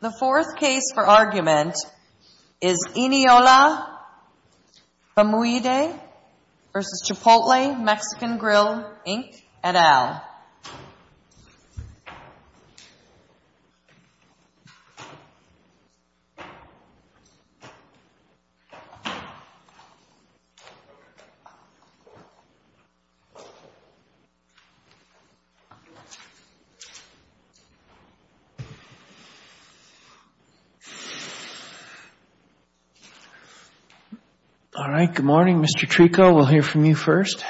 The fourth case for argument is Eniola Famuyide v. Chipotle Mexican Grill, Inc. et al. All right. Good morning, Mr. Trico. We'll hear from you first.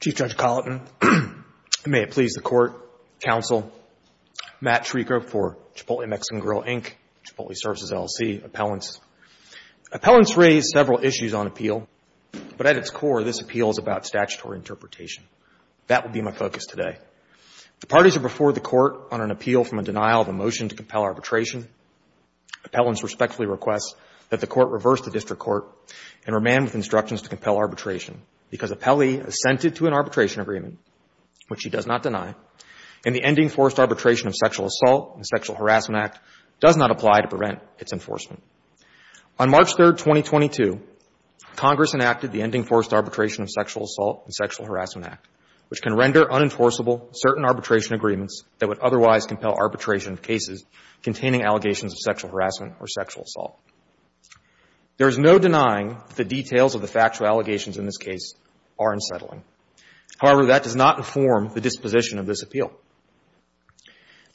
Chief Judge Colleton, and may it please the Court, Counsel, Matt Trico for Chipotle Mexican Grill, Inc., Chipotle Services, LLC, Appellants. Appellants raise several issues on appeal, but at its core, this appeal is about statutory interpretation. That will be my focus today. The parties are before the Court on an appeal from a denial of a motion to compel arbitration. Appellants respectfully request that the Court reverse the district court and remand with instructions to compel arbitration because appellee assented to an arbitration agreement, which she does not deny, and the ending forced arbitration of sexual On March 3, 2022, Congress enacted the Ending Forced Arbitration of Sexual Assault and Sexual Harassment Act, which can render unenforceable certain arbitration agreements that would otherwise compel arbitration of cases containing allegations of sexual harassment or sexual assault. There is no denying that the details of the factual allegations in this case are unsettling. However, that does not inform the disposition of this appeal.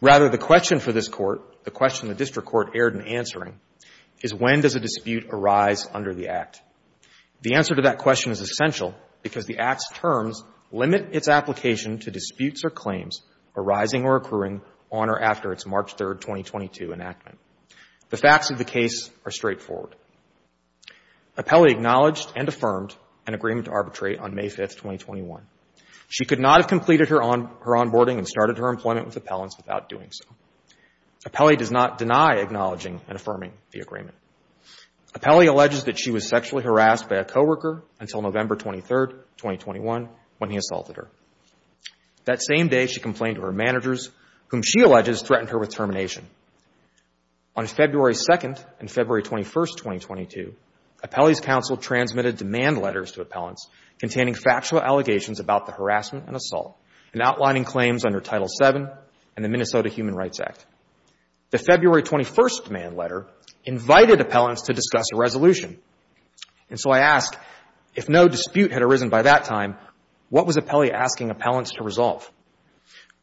Rather, the question for this Court, the question the district court erred in answering, is when does a dispute arise under the Act? The answer to that question is essential because the Act's terms limit its application to disputes or claims arising or accruing on or after its March 3, 2022, enactment. The facts of the case are straightforward. Appellee acknowledged and affirmed an agreement to arbitrate on May 5, 2021. She could not have completed her onboarding and started her employment with appellants without doing so. Appellee does not deny acknowledging and affirming the agreement. Appellee alleges that she was sexually harassed by a coworker until November 23, 2021, when he assaulted her. That same day, she complained to her managers, whom she alleges threatened her with termination. On February 2 and February 21, 2022, Appellee's counsel transmitted demand letters to appellants containing factual allegations about the harassment and assault and outlining claims under Title VII and the Minnesota Human Rights Act. The February 21 demand letter invited appellants to discuss a resolution. And so I ask, if no dispute had arisen by that time, what was Appellee asking appellants to resolve?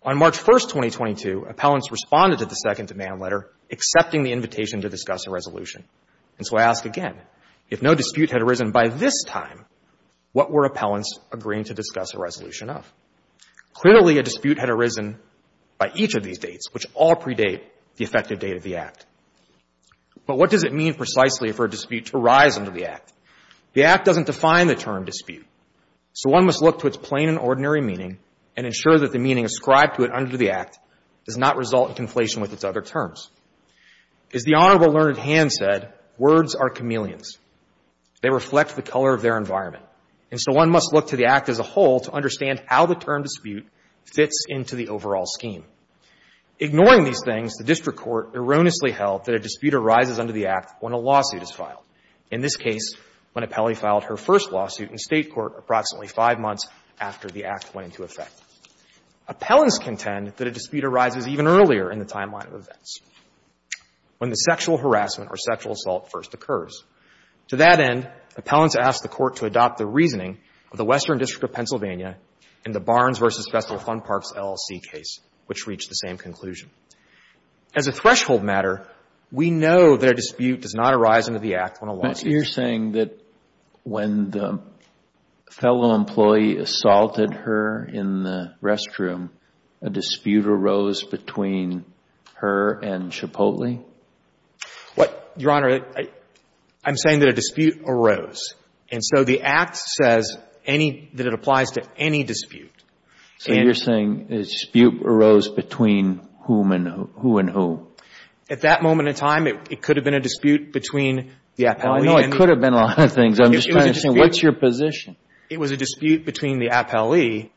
On March 1, 2022, appellants responded to the second demand letter, accepting the invitation to discuss a resolution. And so I ask again, if no dispute had arisen by this time, what were appellants agreeing to discuss a resolution of? Clearly, a dispute had arisen by each of these dates, which all predate the effective date of the Act. But what does it mean precisely for a dispute to rise under the Act? The Act doesn't define the term dispute, so one must look to its plain and ordinary meaning and ensure that the meaning ascribed to it under the Act does not result in conflation with its other terms. As the Honorable Learned Hand said, words are chameleons. They reflect the color of their environment. And so one must look to the Act as a whole to understand how the term dispute fits into the overall scheme. Ignoring these things, the district court erroneously held that a dispute arises under the Act when a lawsuit is filed, in this case, when Appellee filed her first lawsuit in State court approximately five months after the Act went into effect. Appellants contend that a dispute arises even earlier in the timeline of events, when the sexual harassment or sexual assault first occurs. To that end, appellants ask the Court to adopt the reasoning of the Western District of Pennsylvania in the Barnes v. Festler Fund Parks LLC case, which reached the same conclusion. As a threshold matter, we know that a dispute does not arise under the Act when a lawsuit is filed. When the fellow employee assaulted her in the restroom, a dispute arose between her and Chipotle? Your Honor, I'm saying that a dispute arose. And so the Act says that it applies to any dispute. So you're saying a dispute arose between whom and who? At that moment in time, it could have been a dispute between the Appellee and the What's your position? It was a dispute between the Appellee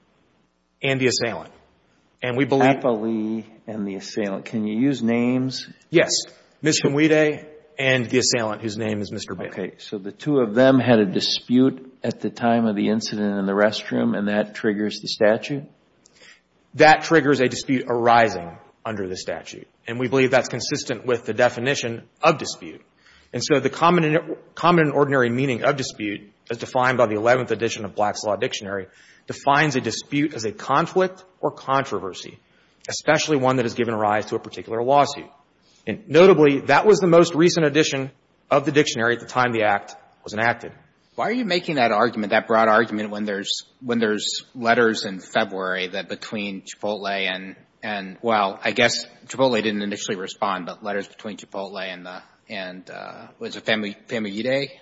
and the assailant. And we believe Appellee and the assailant. Can you use names? Yes. Ms. Humwide and the assailant, whose name is Mr. Bailey. Okay. So the two of them had a dispute at the time of the incident in the restroom, and that triggers the statute? That triggers a dispute arising under the statute. And we believe that's consistent with the definition of dispute. And so the common and ordinary meaning of dispute, as defined by the 11th edition of Black's Law Dictionary, defines a dispute as a conflict or controversy, especially one that has given rise to a particular lawsuit. And notably, that was the most recent edition of the dictionary at the time the Act was enacted. Why are you making that argument, that broad argument, when there's letters in February that between Chipotle and — well, I guess Chipotle didn't initially respond, but letters between Chipotle and the — was it Famuyide?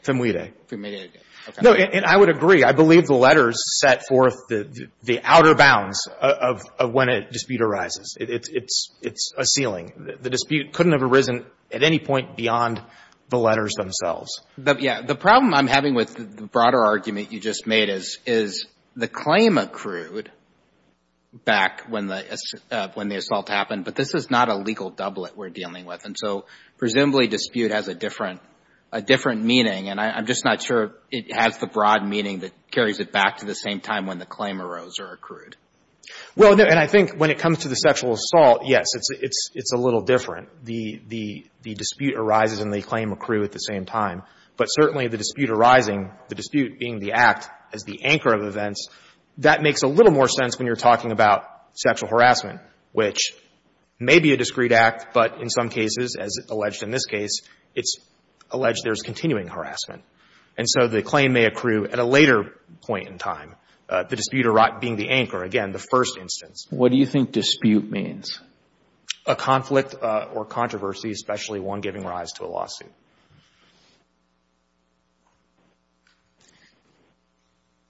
Famuyide. Famuyide. Okay. No, and I would agree. I believe the letters set forth the outer bounds of when a dispute arises. It's a ceiling. The dispute couldn't have arisen at any point beyond the letters themselves. Yeah. The problem I'm having with the broader argument you just made is the claim accrued back when the assault happened. But this is not a legal doublet we're dealing with. And so presumably dispute has a different meaning. And I'm just not sure it has the broad meaning that carries it back to the same time when the claim arose or accrued. Well, and I think when it comes to the sexual assault, yes, it's a little different. The dispute arises and the claim accrued at the same time. But certainly the dispute arising, the dispute being the Act as the anchor of events, that makes a little more sense when you're talking about sexual harassment, which may be a discreet act, but in some cases, as alleged in this case, it's alleged there's continuing harassment. And so the claim may accrue at a later point in time, the dispute being the anchor, again, the first instance. What do you think dispute means? A conflict or controversy, especially one giving rise to a lawsuit.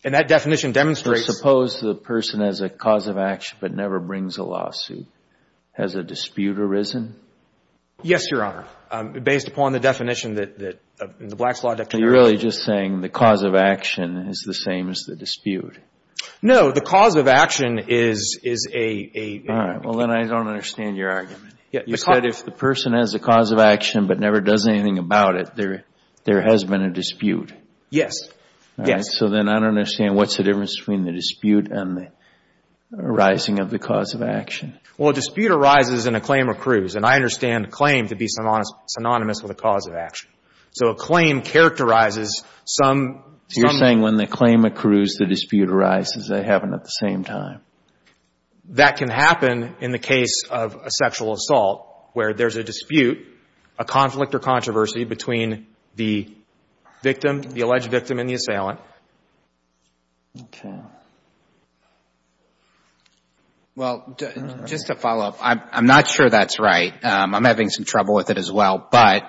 And that definition demonstrates. So suppose the person has a cause of action but never brings a lawsuit. Has a dispute arisen? Yes, Your Honor. Based upon the definition that the Black's Law declaration. Are you really just saying the cause of action is the same as the dispute? No. The cause of action is a. All right. Well, then I don't understand your argument. You said if the person has a cause of action but never does anything about it, there has been a dispute. Yes. All right. So then I don't understand what's the difference between the dispute and the arising of the cause of action. Well, a dispute arises and a claim accrues. And I understand a claim to be synonymous with a cause of action. So a claim characterizes some. You're saying when the claim accrues, the dispute arises. They happen at the same time. That can happen in the case of a sexual assault where there's a dispute, a conflict or controversy between the victim, the alleged victim and the assailant. Okay. Well, just to follow up, I'm not sure that's right. I'm having some trouble with it as well. But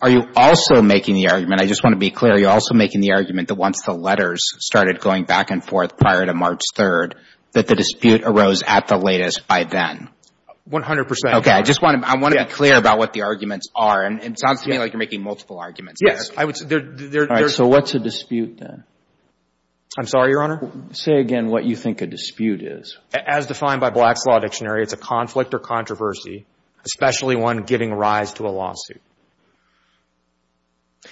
are you also making the argument, I just want to be clear, are you also making the argument that once the letters started going back and forth prior to March 3rd that the dispute arose at the latest by then? 100 percent. Okay. I just want to be clear about what the arguments are. It sounds to me like you're making multiple arguments. Yes. All right. So what's a dispute then? I'm sorry, Your Honor? Say again what you think a dispute is. As defined by Black's Law Dictionary, it's a conflict or controversy, especially one giving rise to a lawsuit.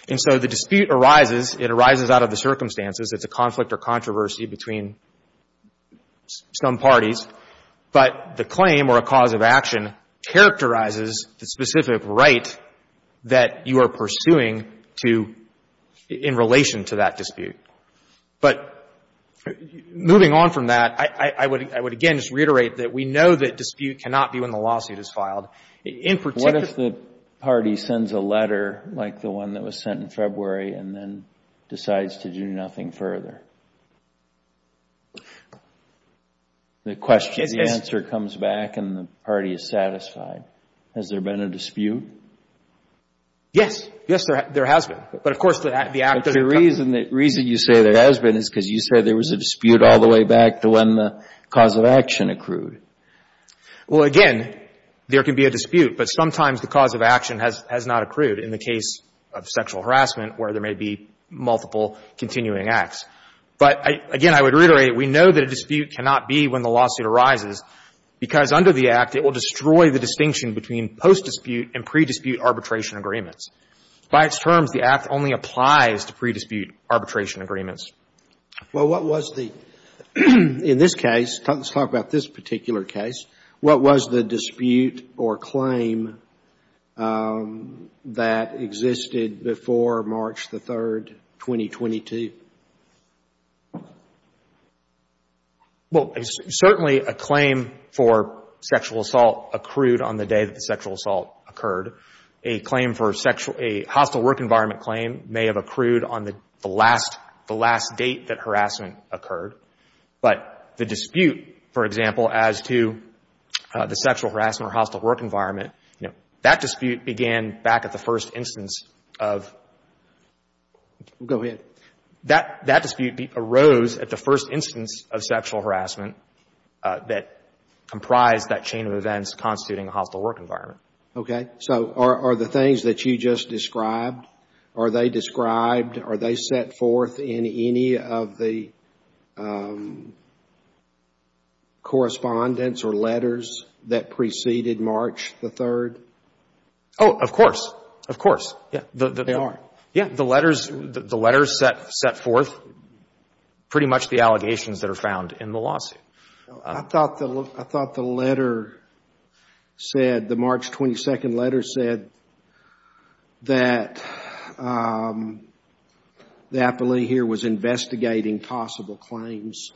And so the dispute arises. It arises out of the circumstances. It's a conflict or controversy between some parties. But the claim or a cause of action characterizes the specific right that you are pursuing in relation to that dispute. But moving on from that, I would, again, just reiterate that we know that dispute cannot be when the lawsuit is filed. What if the party sends a letter like the one that was sent in February and then decides to do nothing further? The question, the answer comes back and the party is satisfied. Has there been a dispute? Yes. Yes, there has been. But, of course, the act of the country. But the reason you say there has been is because you said there was a dispute all the way back to when the cause of action accrued. Well, again, there could be a dispute, but sometimes the cause of action has not accrued in the case of sexual harassment where there may be multiple continuing acts. But, again, I would reiterate, we know that a dispute cannot be when the lawsuit arises because under the Act it will destroy the distinction between post-dispute and pre-dispute arbitration agreements. By its terms, the Act only applies to pre-dispute arbitration agreements. Well, what was the, in this case, let's talk about this particular case, what was the dispute or claim that existed before March the 3rd, 2022? Well, certainly a claim for sexual assault accrued on the day that the sexual assault occurred. A claim for sexual, a hostile work environment claim may have accrued on the last, the last date that harassment occurred. But the dispute, for example, as to the sexual harassment or hostile work environment, you know, that dispute began back at the first instance of. Go ahead. That dispute arose at the first instance of sexual harassment that comprised that chain of events constituting a hostile work environment. Okay. So are the things that you just described, are they described, are they set forth in any of the correspondence or letters that preceded March the 3rd? Oh, of course. Of course. Yeah. They are? Yeah. The letters, the letters set forth pretty much the allegations that are found in the lawsuit. I thought the, I thought the letter said, the March 22nd letter said, that the appellee here was investigating possible claims.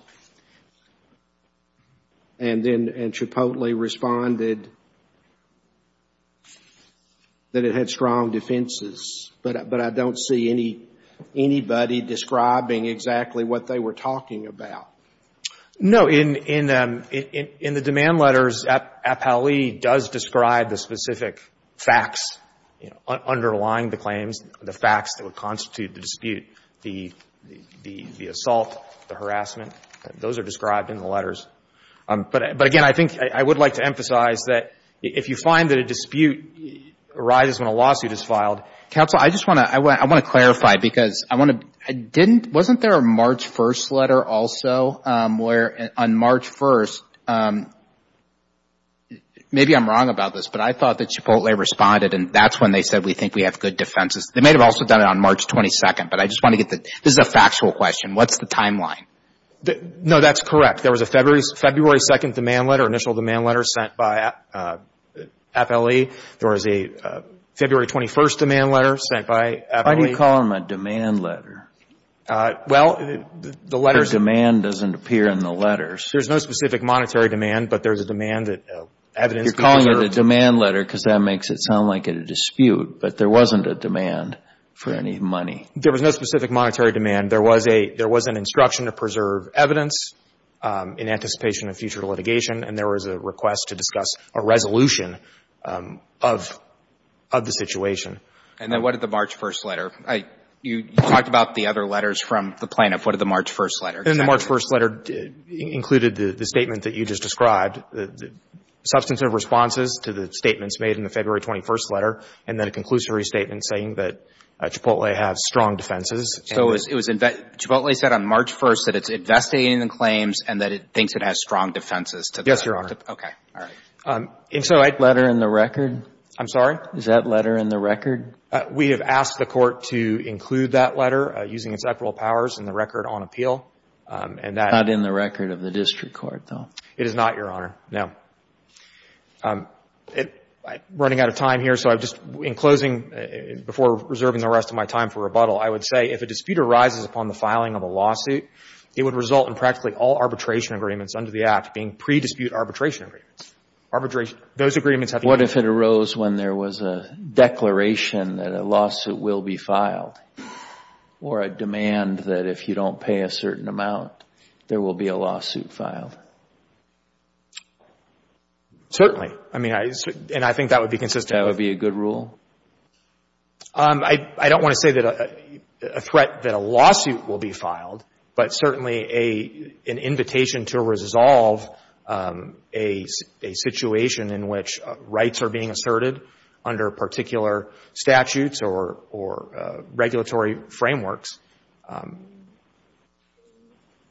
And then, and Chipotle responded that it had strong defenses. But I don't see any, anybody describing exactly what they were talking about. No. In the demand letters, appellee does describe the specific facts, you know, underlying the claims, the facts that would constitute the dispute. The assault, the harassment, those are described in the letters. But, again, I think I would like to emphasize that if you find that a dispute arises when a lawsuit is filed, counsel, I just want to, I want to clarify because I want to, I didn't, wasn't there a March 1st letter also where, on March 1st, maybe I'm wrong about this, but I thought that Chipotle responded and that's when they said we think we have good defenses. They may have also done it on March 22nd, but I just want to get the, this is a factual question, what's the timeline? No, that's correct. There was a February 2nd demand letter, initial demand letter sent by appellee. There was a February 21st demand letter sent by appellee. Why do you call them a demand letter? Well, the letters. The demand doesn't appear in the letters. There's no specific monetary demand, but there's a demand that evidence could be preserved. You're calling it a demand letter because that makes it sound like a dispute, but there wasn't a demand for any money. There was no specific monetary demand. There was a, there was an instruction to preserve evidence in anticipation of future litigation, and there was a request to discuss a resolution of, of the situation. And then what did the March 1st letter? You talked about the other letters from the plaintiff. What did the March 1st letter? The March 1st letter included the statement that you just described, substantive responses to the statements made in the February 21st letter and then a conclusive restatement saying that Chipotle has strong defenses. So it was, it was, Chipotle said on March 1st that it's investigating the claims and that it thinks it has strong defenses. Yes, Your Honor. Okay. All right. Is that letter in the record? I'm sorry? Is that letter in the record? We have asked the Court to include that letter using its equitable powers in the record on appeal. And that — It's not in the record of the district court, though. It is not, Your Honor. No. Running out of time here, so I'm just, in closing, before reserving the rest of my time for rebuttal, I would say if a dispute arises upon the filing of a lawsuit, it would result in practically all arbitration agreements under the Act being pre-dispute arbitration agreements. Arbitration. What if it arose when there was a declaration that a lawsuit will be filed or a demand that if you don't pay a certain amount, there will be a lawsuit filed? Certainly. I mean, and I think that would be consistent. That would be a good rule? I don't want to say that a threat, that a lawsuit will be filed, but certainly an invitation to resolve a situation in which rights are being asserted under particular statutes or regulatory frameworks.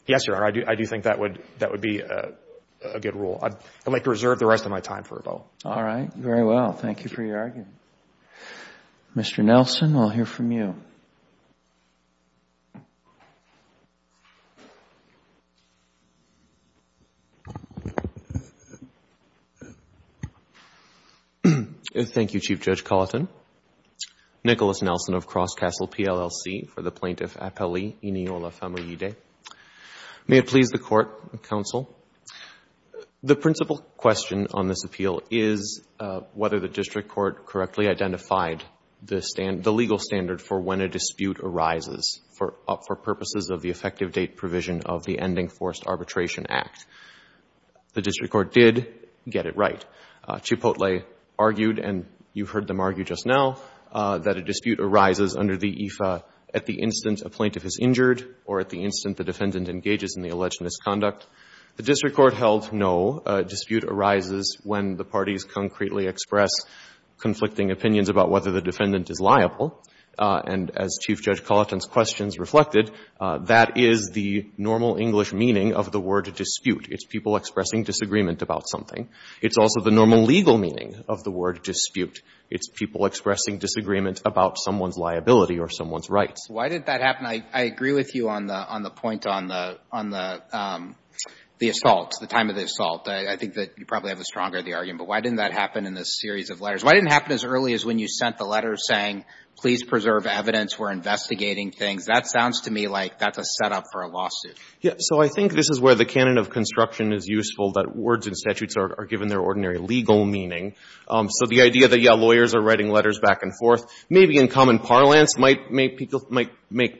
Yes, Your Honor, I do think that would be a good rule. I'd like to reserve the rest of my time for rebuttal. All right. Very well. Thank you for your argument. Mr. Nelson, we'll hear from you. Thank you. Thank you, Chief Judge Colleton. Nicholas Nelson of Crosscastle PLLC for the Plaintiff Appellee, Eniola Famolide. May it please the Court and Counsel, the principal question on this appeal is whether the District Court correctly identified the legal standard for when a dispute arises for purposes of the effective date provision of the Ending Forced Arbitration Act. The District Court did get it right. Chipotle argued, and you heard them argue just now, that a dispute arises under the EFA at the instant a plaintiff is injured or at the instant the defendant engages in the alleged misconduct. The District Court held no, a dispute arises when the parties concretely express conflicting opinions about whether the defendant is liable. And as Chief Judge Colleton's questions reflected, that is the normal English meaning of the word dispute. It's people expressing disagreement about something. It's also the normal legal meaning of the word dispute. It's people expressing disagreement about someone's liability or someone's rights. Why did that happen? I agree with you on the point on the assault, the time of the assault. I think that you probably have a stronger argument. But why didn't that happen in this series of letters? Why didn't it happen as early as when you sent the letter saying, please preserve evidence, we're investigating things? That sounds to me like that's a setup for a lawsuit. Yeah. So I think this is where the canon of construction is useful, that words and statutes are given their ordinary legal meaning. So the idea that, yeah, lawyers are writing letters back and forth, maybe in common parlance might make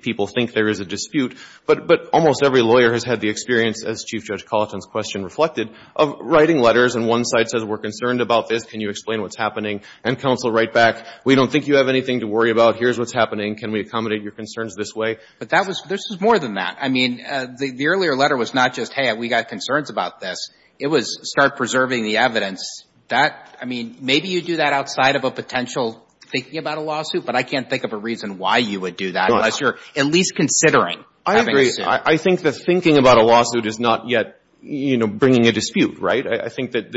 people think there is a dispute. But almost every lawyer has had the experience, as Chief Judge Colleton's question reflected, of writing letters. And one side says, we're concerned about this. Can you explain what's happening? And counsel write back, we don't think you have anything to worry about. Here's what's happening. Can we accommodate your concerns this way? But that was — this was more than that. I mean, the earlier letter was not just, hey, we got concerns about this. It was start preserving the evidence. That — I mean, maybe you do that outside of a potential thinking about a lawsuit, but I can't think of a reason why you would do that unless you're at least considering having a suit. I agree. I think that thinking about a lawsuit is not yet, you know, bringing a dispute, right? I think that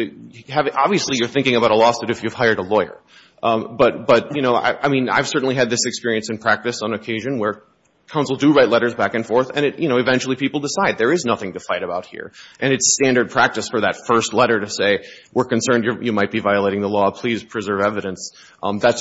— obviously, you're thinking about a lawsuit if you've hired a lawyer. But, you know, I mean, I've certainly had this experience in practice on occasion where counsel do write letters back and forth, and, you know, eventually people decide there is nothing to fight about here. And it's standard practice for that first letter to say, we're concerned you might be violating the law. Please preserve evidence. I mean, I don't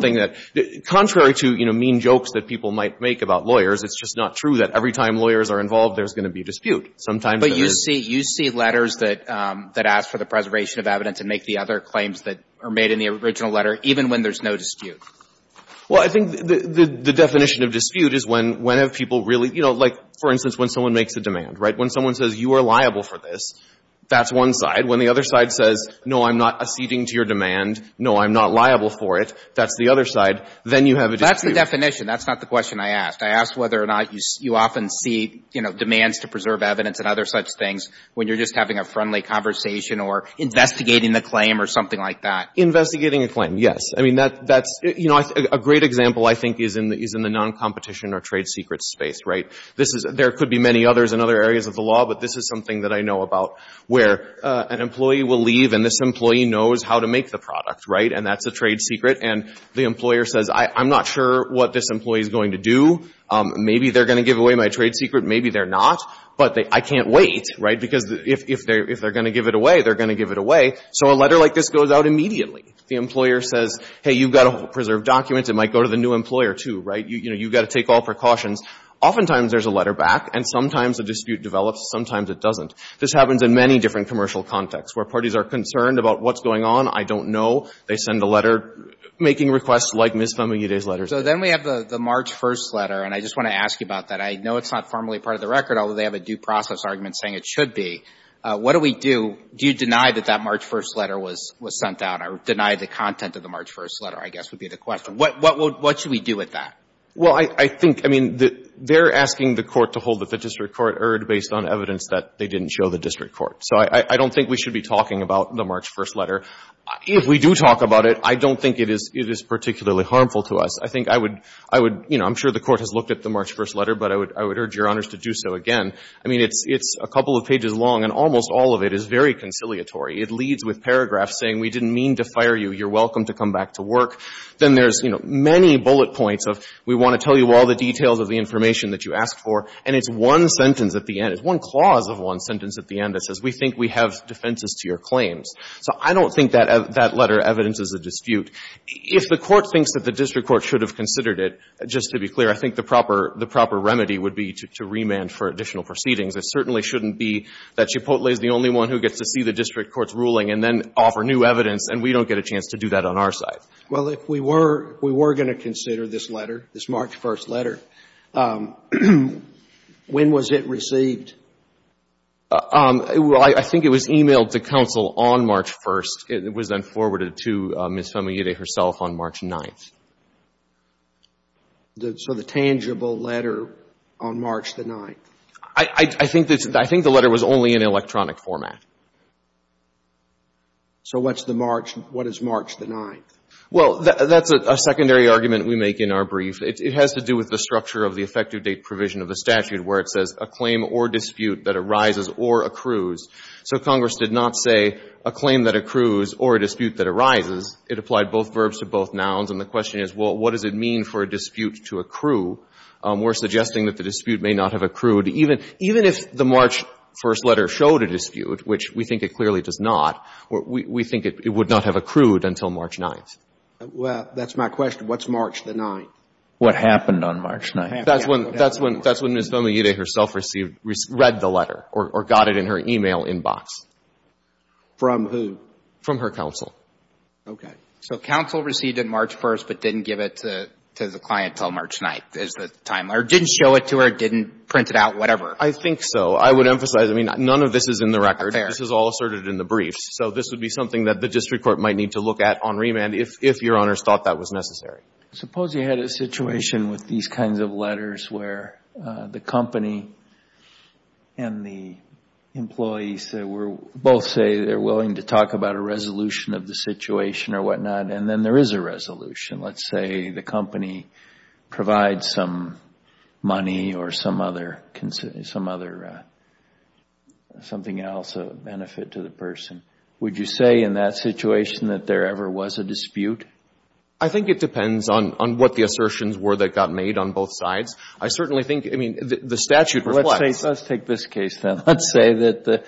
think there's any mean jokes that people might make about lawyers. It's just not true that every time lawyers are involved, there's going to be a dispute. Sometimes there is. But you see — you see letters that — that ask for the preservation of evidence and make the other claims that are made in the original letter, even when there's no dispute. Well, I think the definition of dispute is when — when have people really — you know, like, for instance, when someone makes a demand, right? When someone says, you are liable for this, that's one side. When the other side says, no, I'm not acceding to your demand, no, I'm not liable for it, that's the other side. Then you have a dispute. That's the definition. That's not the question I asked. I asked whether or not you often see, you know, demands to preserve evidence and other such things when you're just having a friendly conversation or investigating the claim or something like that. Investigating a claim, yes. I mean, that's — you know, a great example, I think, is in the noncompetition or trade secrets space, right? This is — there could be many others in other areas of the law, but this is something that I know about where an employee will leave and this employee knows how to make the product, right? And that's a trade secret. And the employer says, I'm not sure what this employee is going to do. Maybe they're going to give away my trade secret. Maybe they're not. But I can't wait, right, because if they're going to give it away, they're going to give it away. So a letter like this goes out immediately. The employer says, hey, you've got to preserve documents. It might go to the new employer, too, right? You know, you've got to take all precautions. Oftentimes there's a letter back, and sometimes a dispute develops, sometimes it doesn't. This happens in many different commercial contexts where parties are concerned about what's going on. I don't know. They send a letter making requests like Ms. Famiglietti's letter. So then we have the March 1st letter, and I just want to ask you about that. I know it's not formally part of the record, although they have a due process argument saying it should be. What do we do? Do you deny that that March 1st letter was sent out or deny the content of the March 1st letter, I guess, would be the question. What should we do with that? Well, I think, I mean, they're asking the Court to hold that the district court erred based on evidence that they didn't show the district court. So I don't think we should be talking about the March 1st letter. If we do talk about it, I don't think it is particularly harmful to us. I think I would, you know, I'm sure the Court has looked at the March 1st letter, but I would urge Your Honors to do so again. I mean, it's a couple of pages long, and almost all of it is very conciliatory. It leads with paragraphs saying we didn't mean to fire you. You're welcome to come back to work. Then there's, you know, many bullet points of we want to tell you all the details of the information that you asked for, and it's one sentence at the end. It's one clause of one sentence at the end that says we think we have defenses to your claims. So I don't think that that letter evidences a dispute. If the Court thinks that the district court should have considered it, just to be clear, I think the proper remedy would be to remand for additional proceedings. It certainly shouldn't be that Chipotle is the only one who gets to see the district court's ruling and then offer new evidence, and we don't get a chance to do that on our side. Well, if we were going to consider this letter, this March 1st letter, when was it received? Well, I think it was e-mailed to counsel on March 1st. It was then forwarded to Ms. Famiglietti herself on March 9th. So the tangible letter on March the 9th? I think the letter was only in electronic format. So what's the March? What is March the 9th? Well, that's a secondary argument we make in our brief. It has to do with the structure of the effective date provision of the statute where it says a claim or dispute that arises or accrues. So Congress did not say a claim that accrues or a dispute that arises. It applied both verbs to both nouns. And the question is, well, what does it mean for a dispute to accrue? We're suggesting that the dispute may not have accrued. Even if the March 1st letter showed a dispute, which we think it clearly does not, we think it would not have accrued until March 9th. Well, that's my question. What's March the 9th? What happened on March 9th? That's when Ms. Famiglietti herself read the letter or got it in her e-mail inbox. From who? From her counsel. Okay. So counsel received it March 1st, but didn't give it to the client until March 9th is the time. Or didn't show it to her, didn't print it out, whatever. I think so. I would emphasize, I mean, none of this is in the record. Fair. This is all asserted in the brief. So this would be something that the district court might need to look at on remand if Your Honors thought that was necessary. Suppose you had a situation with these kinds of letters where the company and the employees both say they're willing to talk about a resolution of the situation or whatnot, and then there is a resolution. Let's say the company provides some money or some other something else, a benefit to the person. Would you say in that situation that there ever was a dispute? I think it depends on what the assertions were that got made on both sides. I certainly think, I mean, the statute reflects. Let's take this case, then. Let's say that,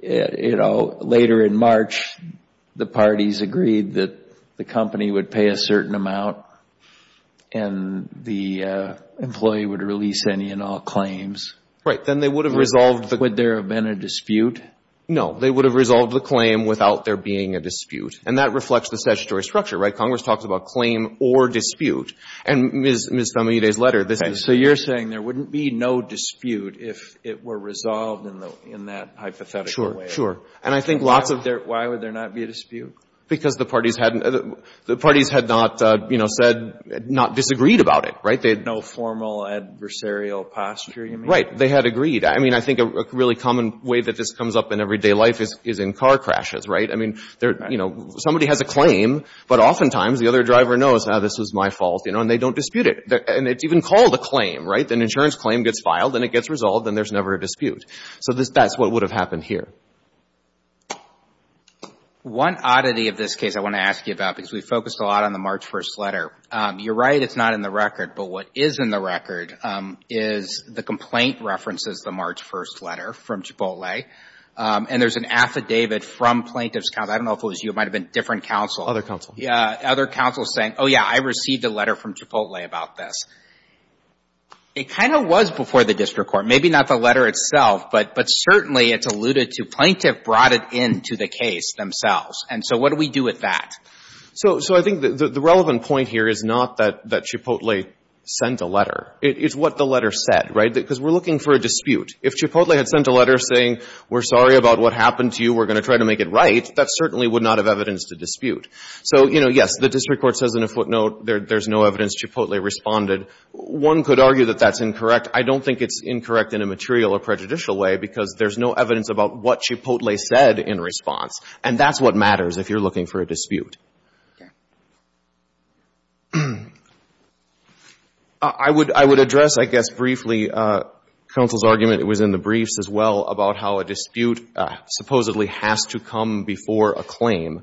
you know, later in March the parties agreed that the company would pay a certain amount and the employee would release any and all claims. Right. Then they would have resolved. Would there have been a dispute? No. They would have resolved the claim without there being a dispute. And that reflects the statutory structure, right? Congress talks about claim or dispute. And Ms. Zamita's letter, this is. So you're saying there wouldn't be no dispute if it were resolved in that hypothetical way? Sure, sure. And I think lots of... Why would there not be a dispute? Because the parties had not, you know, said, not disagreed about it, right? They had no formal adversarial posture, you mean? Right. They had agreed. I mean, I think a really common way that this comes up in everyday life is in car crashes, right? I mean, you know, somebody has a claim, but oftentimes the other driver knows, ah, this is my fault, you know, and they don't dispute it. And it's even called a claim, right? An insurance claim gets filed and it gets resolved and there's never a dispute. So that's what would have happened here. One oddity of this case I want to ask you about because we focused a lot on the March 1st letter. You're right, it's not in the record. But what is in the record is the complaint references the March 1st letter from Chipotle. And there's an affidavit from plaintiff's counsel. I don't know if it was you. It might have been a different counsel. Other counsel. Yeah. Other counsel saying, oh, yeah, I received a letter from Chipotle about this. It kind of was before the district court. Maybe not the letter itself, but certainly it's alluded to. Plaintiff brought it into the case themselves. And so what do we do with that? So I think the relevant point here is not that Chipotle sent a letter. It's what the letter said, right? Because we're looking for a dispute. If Chipotle had sent a letter saying we're sorry about what happened to you, we're going to try to make it right, that certainly would not have evidence to dispute. So, you know, yes, the district court says in a footnote there's no evidence Chipotle responded. One could argue that that's incorrect. I don't think it's incorrect in a material or prejudicial way because there's no evidence about what Chipotle said in response. And that's what matters if you're looking for a dispute. I would address, I guess, briefly counsel's argument, it was in the briefs as well, about how a dispute supposedly has to come before a claim.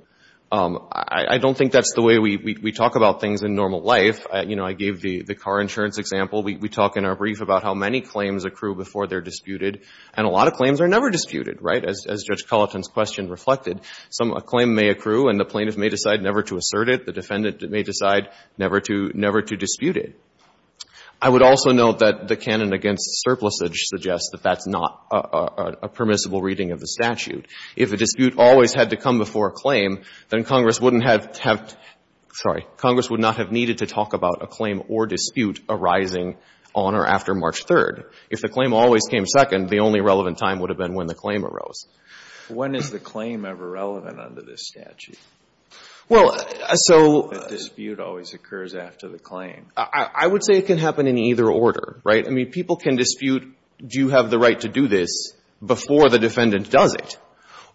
I don't think that's the way we talk about things in normal life. You know, I gave the car insurance example. We talk in our brief about how many claims accrue before they're disputed. And a lot of claims are never disputed, right, as Judge Culleton's question reflected. The defendant may decide never to assert it. The defendant may decide never to dispute it. I would also note that the canon against surplusage suggests that that's not a permissible reading of the statute. If a dispute always had to come before a claim, then Congress wouldn't have to have to have, sorry, Congress would not have needed to talk about a claim or dispute arising on or after March 3rd. If the claim always came second, the only relevant time would have been when the claim arose. When is the claim ever relevant under this statute? Well, so the dispute always occurs after the claim. I would say it can happen in either order, right? I mean, people can dispute, do you have the right to do this before the defendant does it?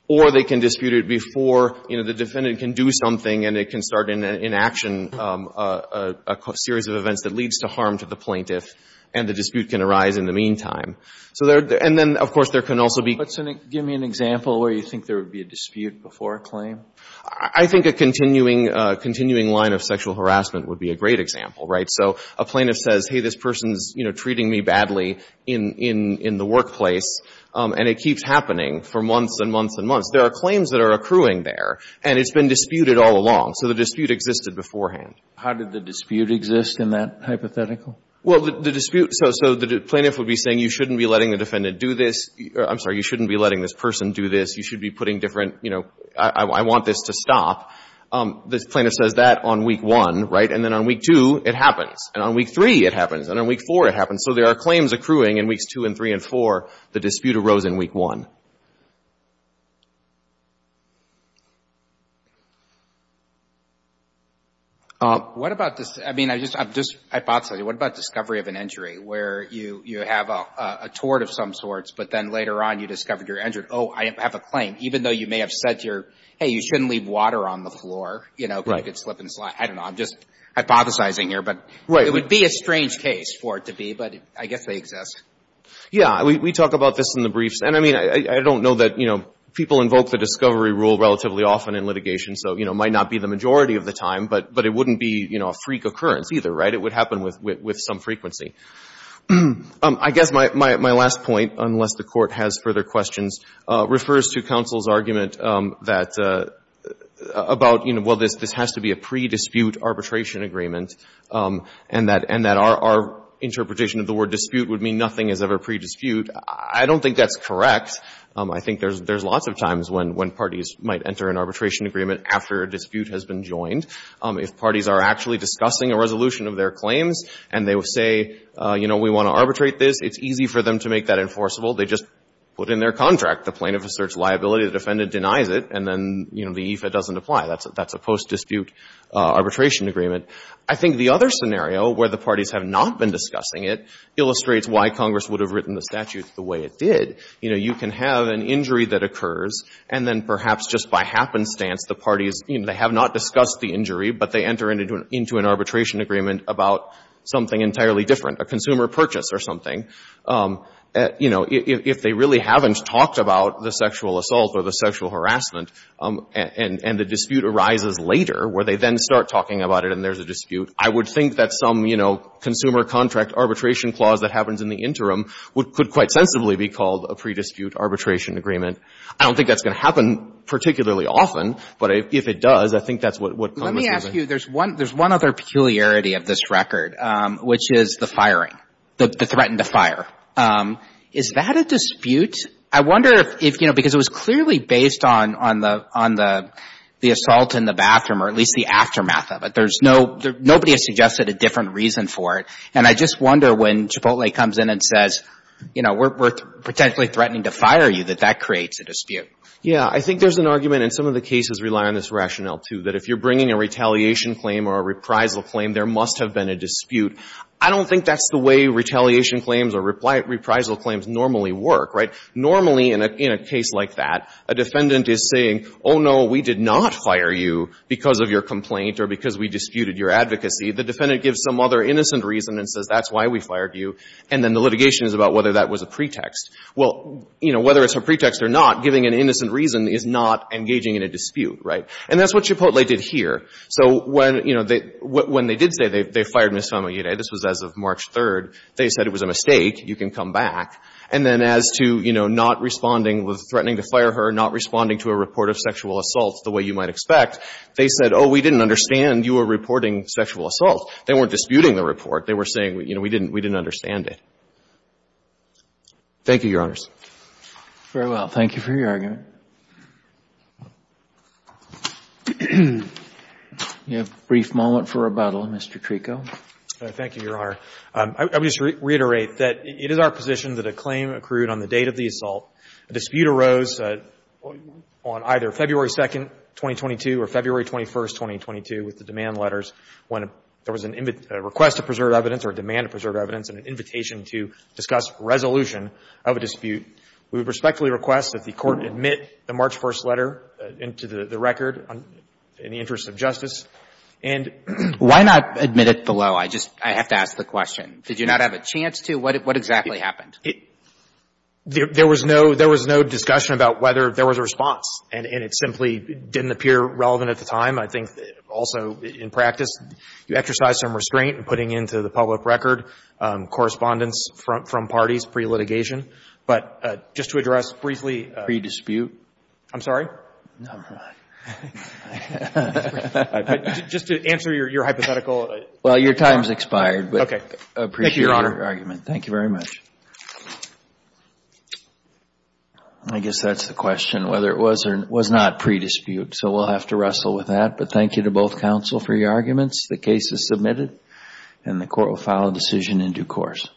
Or they can dispute it before, you know, the defendant can do something and it can start an inaction, a series of events that leads to harm to the plaintiff, and the dispute can arise in the meantime. And then, of course, there can also be. But give me an example where you think there would be a dispute before a claim. I think a continuing line of sexual harassment would be a great example, right? So a plaintiff says, hey, this person's, you know, treating me badly in the workplace, and it keeps happening for months and months and months. There are claims that are accruing there, and it's been disputed all along. So the dispute existed beforehand. How did the dispute exist in that hypothetical? Well, the dispute, so the plaintiff would be saying you shouldn't be letting the defendant do this. I'm sorry. You shouldn't be letting this person do this. You should be putting different, you know, I want this to stop. The plaintiff says that on Week 1, right? And then on Week 2, it happens. And on Week 3, it happens. And on Week 4, it happens. So there are claims accruing in Weeks 2 and 3 and 4. The dispute arose in Week 1. What about this? I mean, I'm just hypothesizing. What about discovery of an injury where you have a tort of some sorts, but then later on you discovered you're injured? Oh, I have a claim. Even though you may have said, hey, you shouldn't leave water on the floor, you know, because it could slip and slide. I don't know. I'm just hypothesizing here. But it would be a strange case for it to be, but I guess they exist. Yeah. We talk about this in the briefs. And, I mean, I don't know that, you know, people invoke the discovery rule relatively often in litigation, so it might not be the majority of the time, but it wouldn't be a freak occurrence either, right? It would happen with some frequency. I guess my last point, unless the Court has further questions, refers to counsel's argument about, you know, well, this has to be a pre-dispute arbitration agreement and that our interpretation of the word dispute would mean nothing is ever pre-dispute. I don't think that's correct. I think there's lots of times when parties might enter an arbitration agreement after a dispute has been joined. If parties are actually discussing a resolution of their claims and they say, you know, we want to arbitrate this, it's easy for them to make that enforceable. They just put in their contract the plaintiff asserts liability, the defendant denies it, and then, you know, the EFA doesn't apply. That's a post-dispute arbitration agreement. I think the other scenario where the parties have not been discussing it illustrates why Congress would have written the statute the way it did. You know, you can have an injury that occurs and then perhaps just by happenstance the parties, you know, they have not discussed the injury, but they enter into an arbitration agreement about something entirely different, a consumer purchase or something. You know, if they really haven't talked about the sexual assault or the sexual harassment and the dispute arises later where they then start talking about it and there's a dispute, I would think that some, you know, consumer contract arbitration clause that happens in the interim could quite sensibly be called a pre-dispute arbitration agreement. I don't think that's going to happen particularly often, but if it does, I think that's what Congress would have done. Let me ask you, there's one other peculiarity of this record, which is the firing, the threatened to fire. Is that a dispute? I wonder if, you know, because it was clearly based on the assault in the bathroom or at least the aftermath of it. There's no — nobody has suggested a different reason for it. And I just wonder when Chipotle comes in and says, you know, we're potentially threatening to fire you, that that creates a dispute. Yeah. I think there's an argument, and some of the cases rely on this rationale, too, that if you're bringing a retaliation claim or a reprisal claim, there must have been a dispute. I don't think that's the way retaliation claims or reprisal claims normally work, right? Normally in a case like that, a defendant is saying, oh, no, we did not fire you because of your complaint or because we disputed your advocacy. The defendant gives some other innocent reason and says, that's why we fired you. And then the litigation is about whether that was a pretext. Well, you know, whether it's a pretext or not, giving an innocent reason is not engaging in a dispute, right? And that's what Chipotle did here. So when, you know, they — when they did say they fired Ms. Famiglietti, this was as of March 3rd, they said it was a mistake, you can come back. And then as to, you know, not responding, threatening to fire her, not responding to a report of sexual assault the way you might expect, they said, oh, we didn't understand you were reporting sexual assault. They weren't disputing the report. They were saying, you know, we didn't — we didn't understand it. Thank you, Your Honors. Very well. Thank you for your argument. We have a brief moment for rebuttal, Mr. Treko. Thank you, Your Honor. I would just reiterate that it is our position that a claim accrued on the date of the on either February 2nd, 2022, or February 21st, 2022, with the demand letters, when there was a request to preserve evidence or a demand to preserve evidence and an invitation to discuss resolution of a dispute, we would respectfully request that the Court admit the March 1st letter into the record in the interest of justice. And — Why not admit it below? I just — I have to ask the question. Did you not have a chance to? What exactly happened? There was no — there was no discussion about whether there was a response. And it simply didn't appear relevant at the time. I think also in practice, you exercise some restraint in putting into the public record correspondence from parties pre-litigation. But just to address briefly — Pre-dispute? I'm sorry? Never mind. Just to answer your hypothetical. But I appreciate your argument. Thank you, Your Honor. Thank you very much. I guess that's the question, whether it was or was not pre-dispute. So we'll have to wrestle with that. But thank you to both counsel for your arguments. The case is submitted and the Court will file a decision in due course.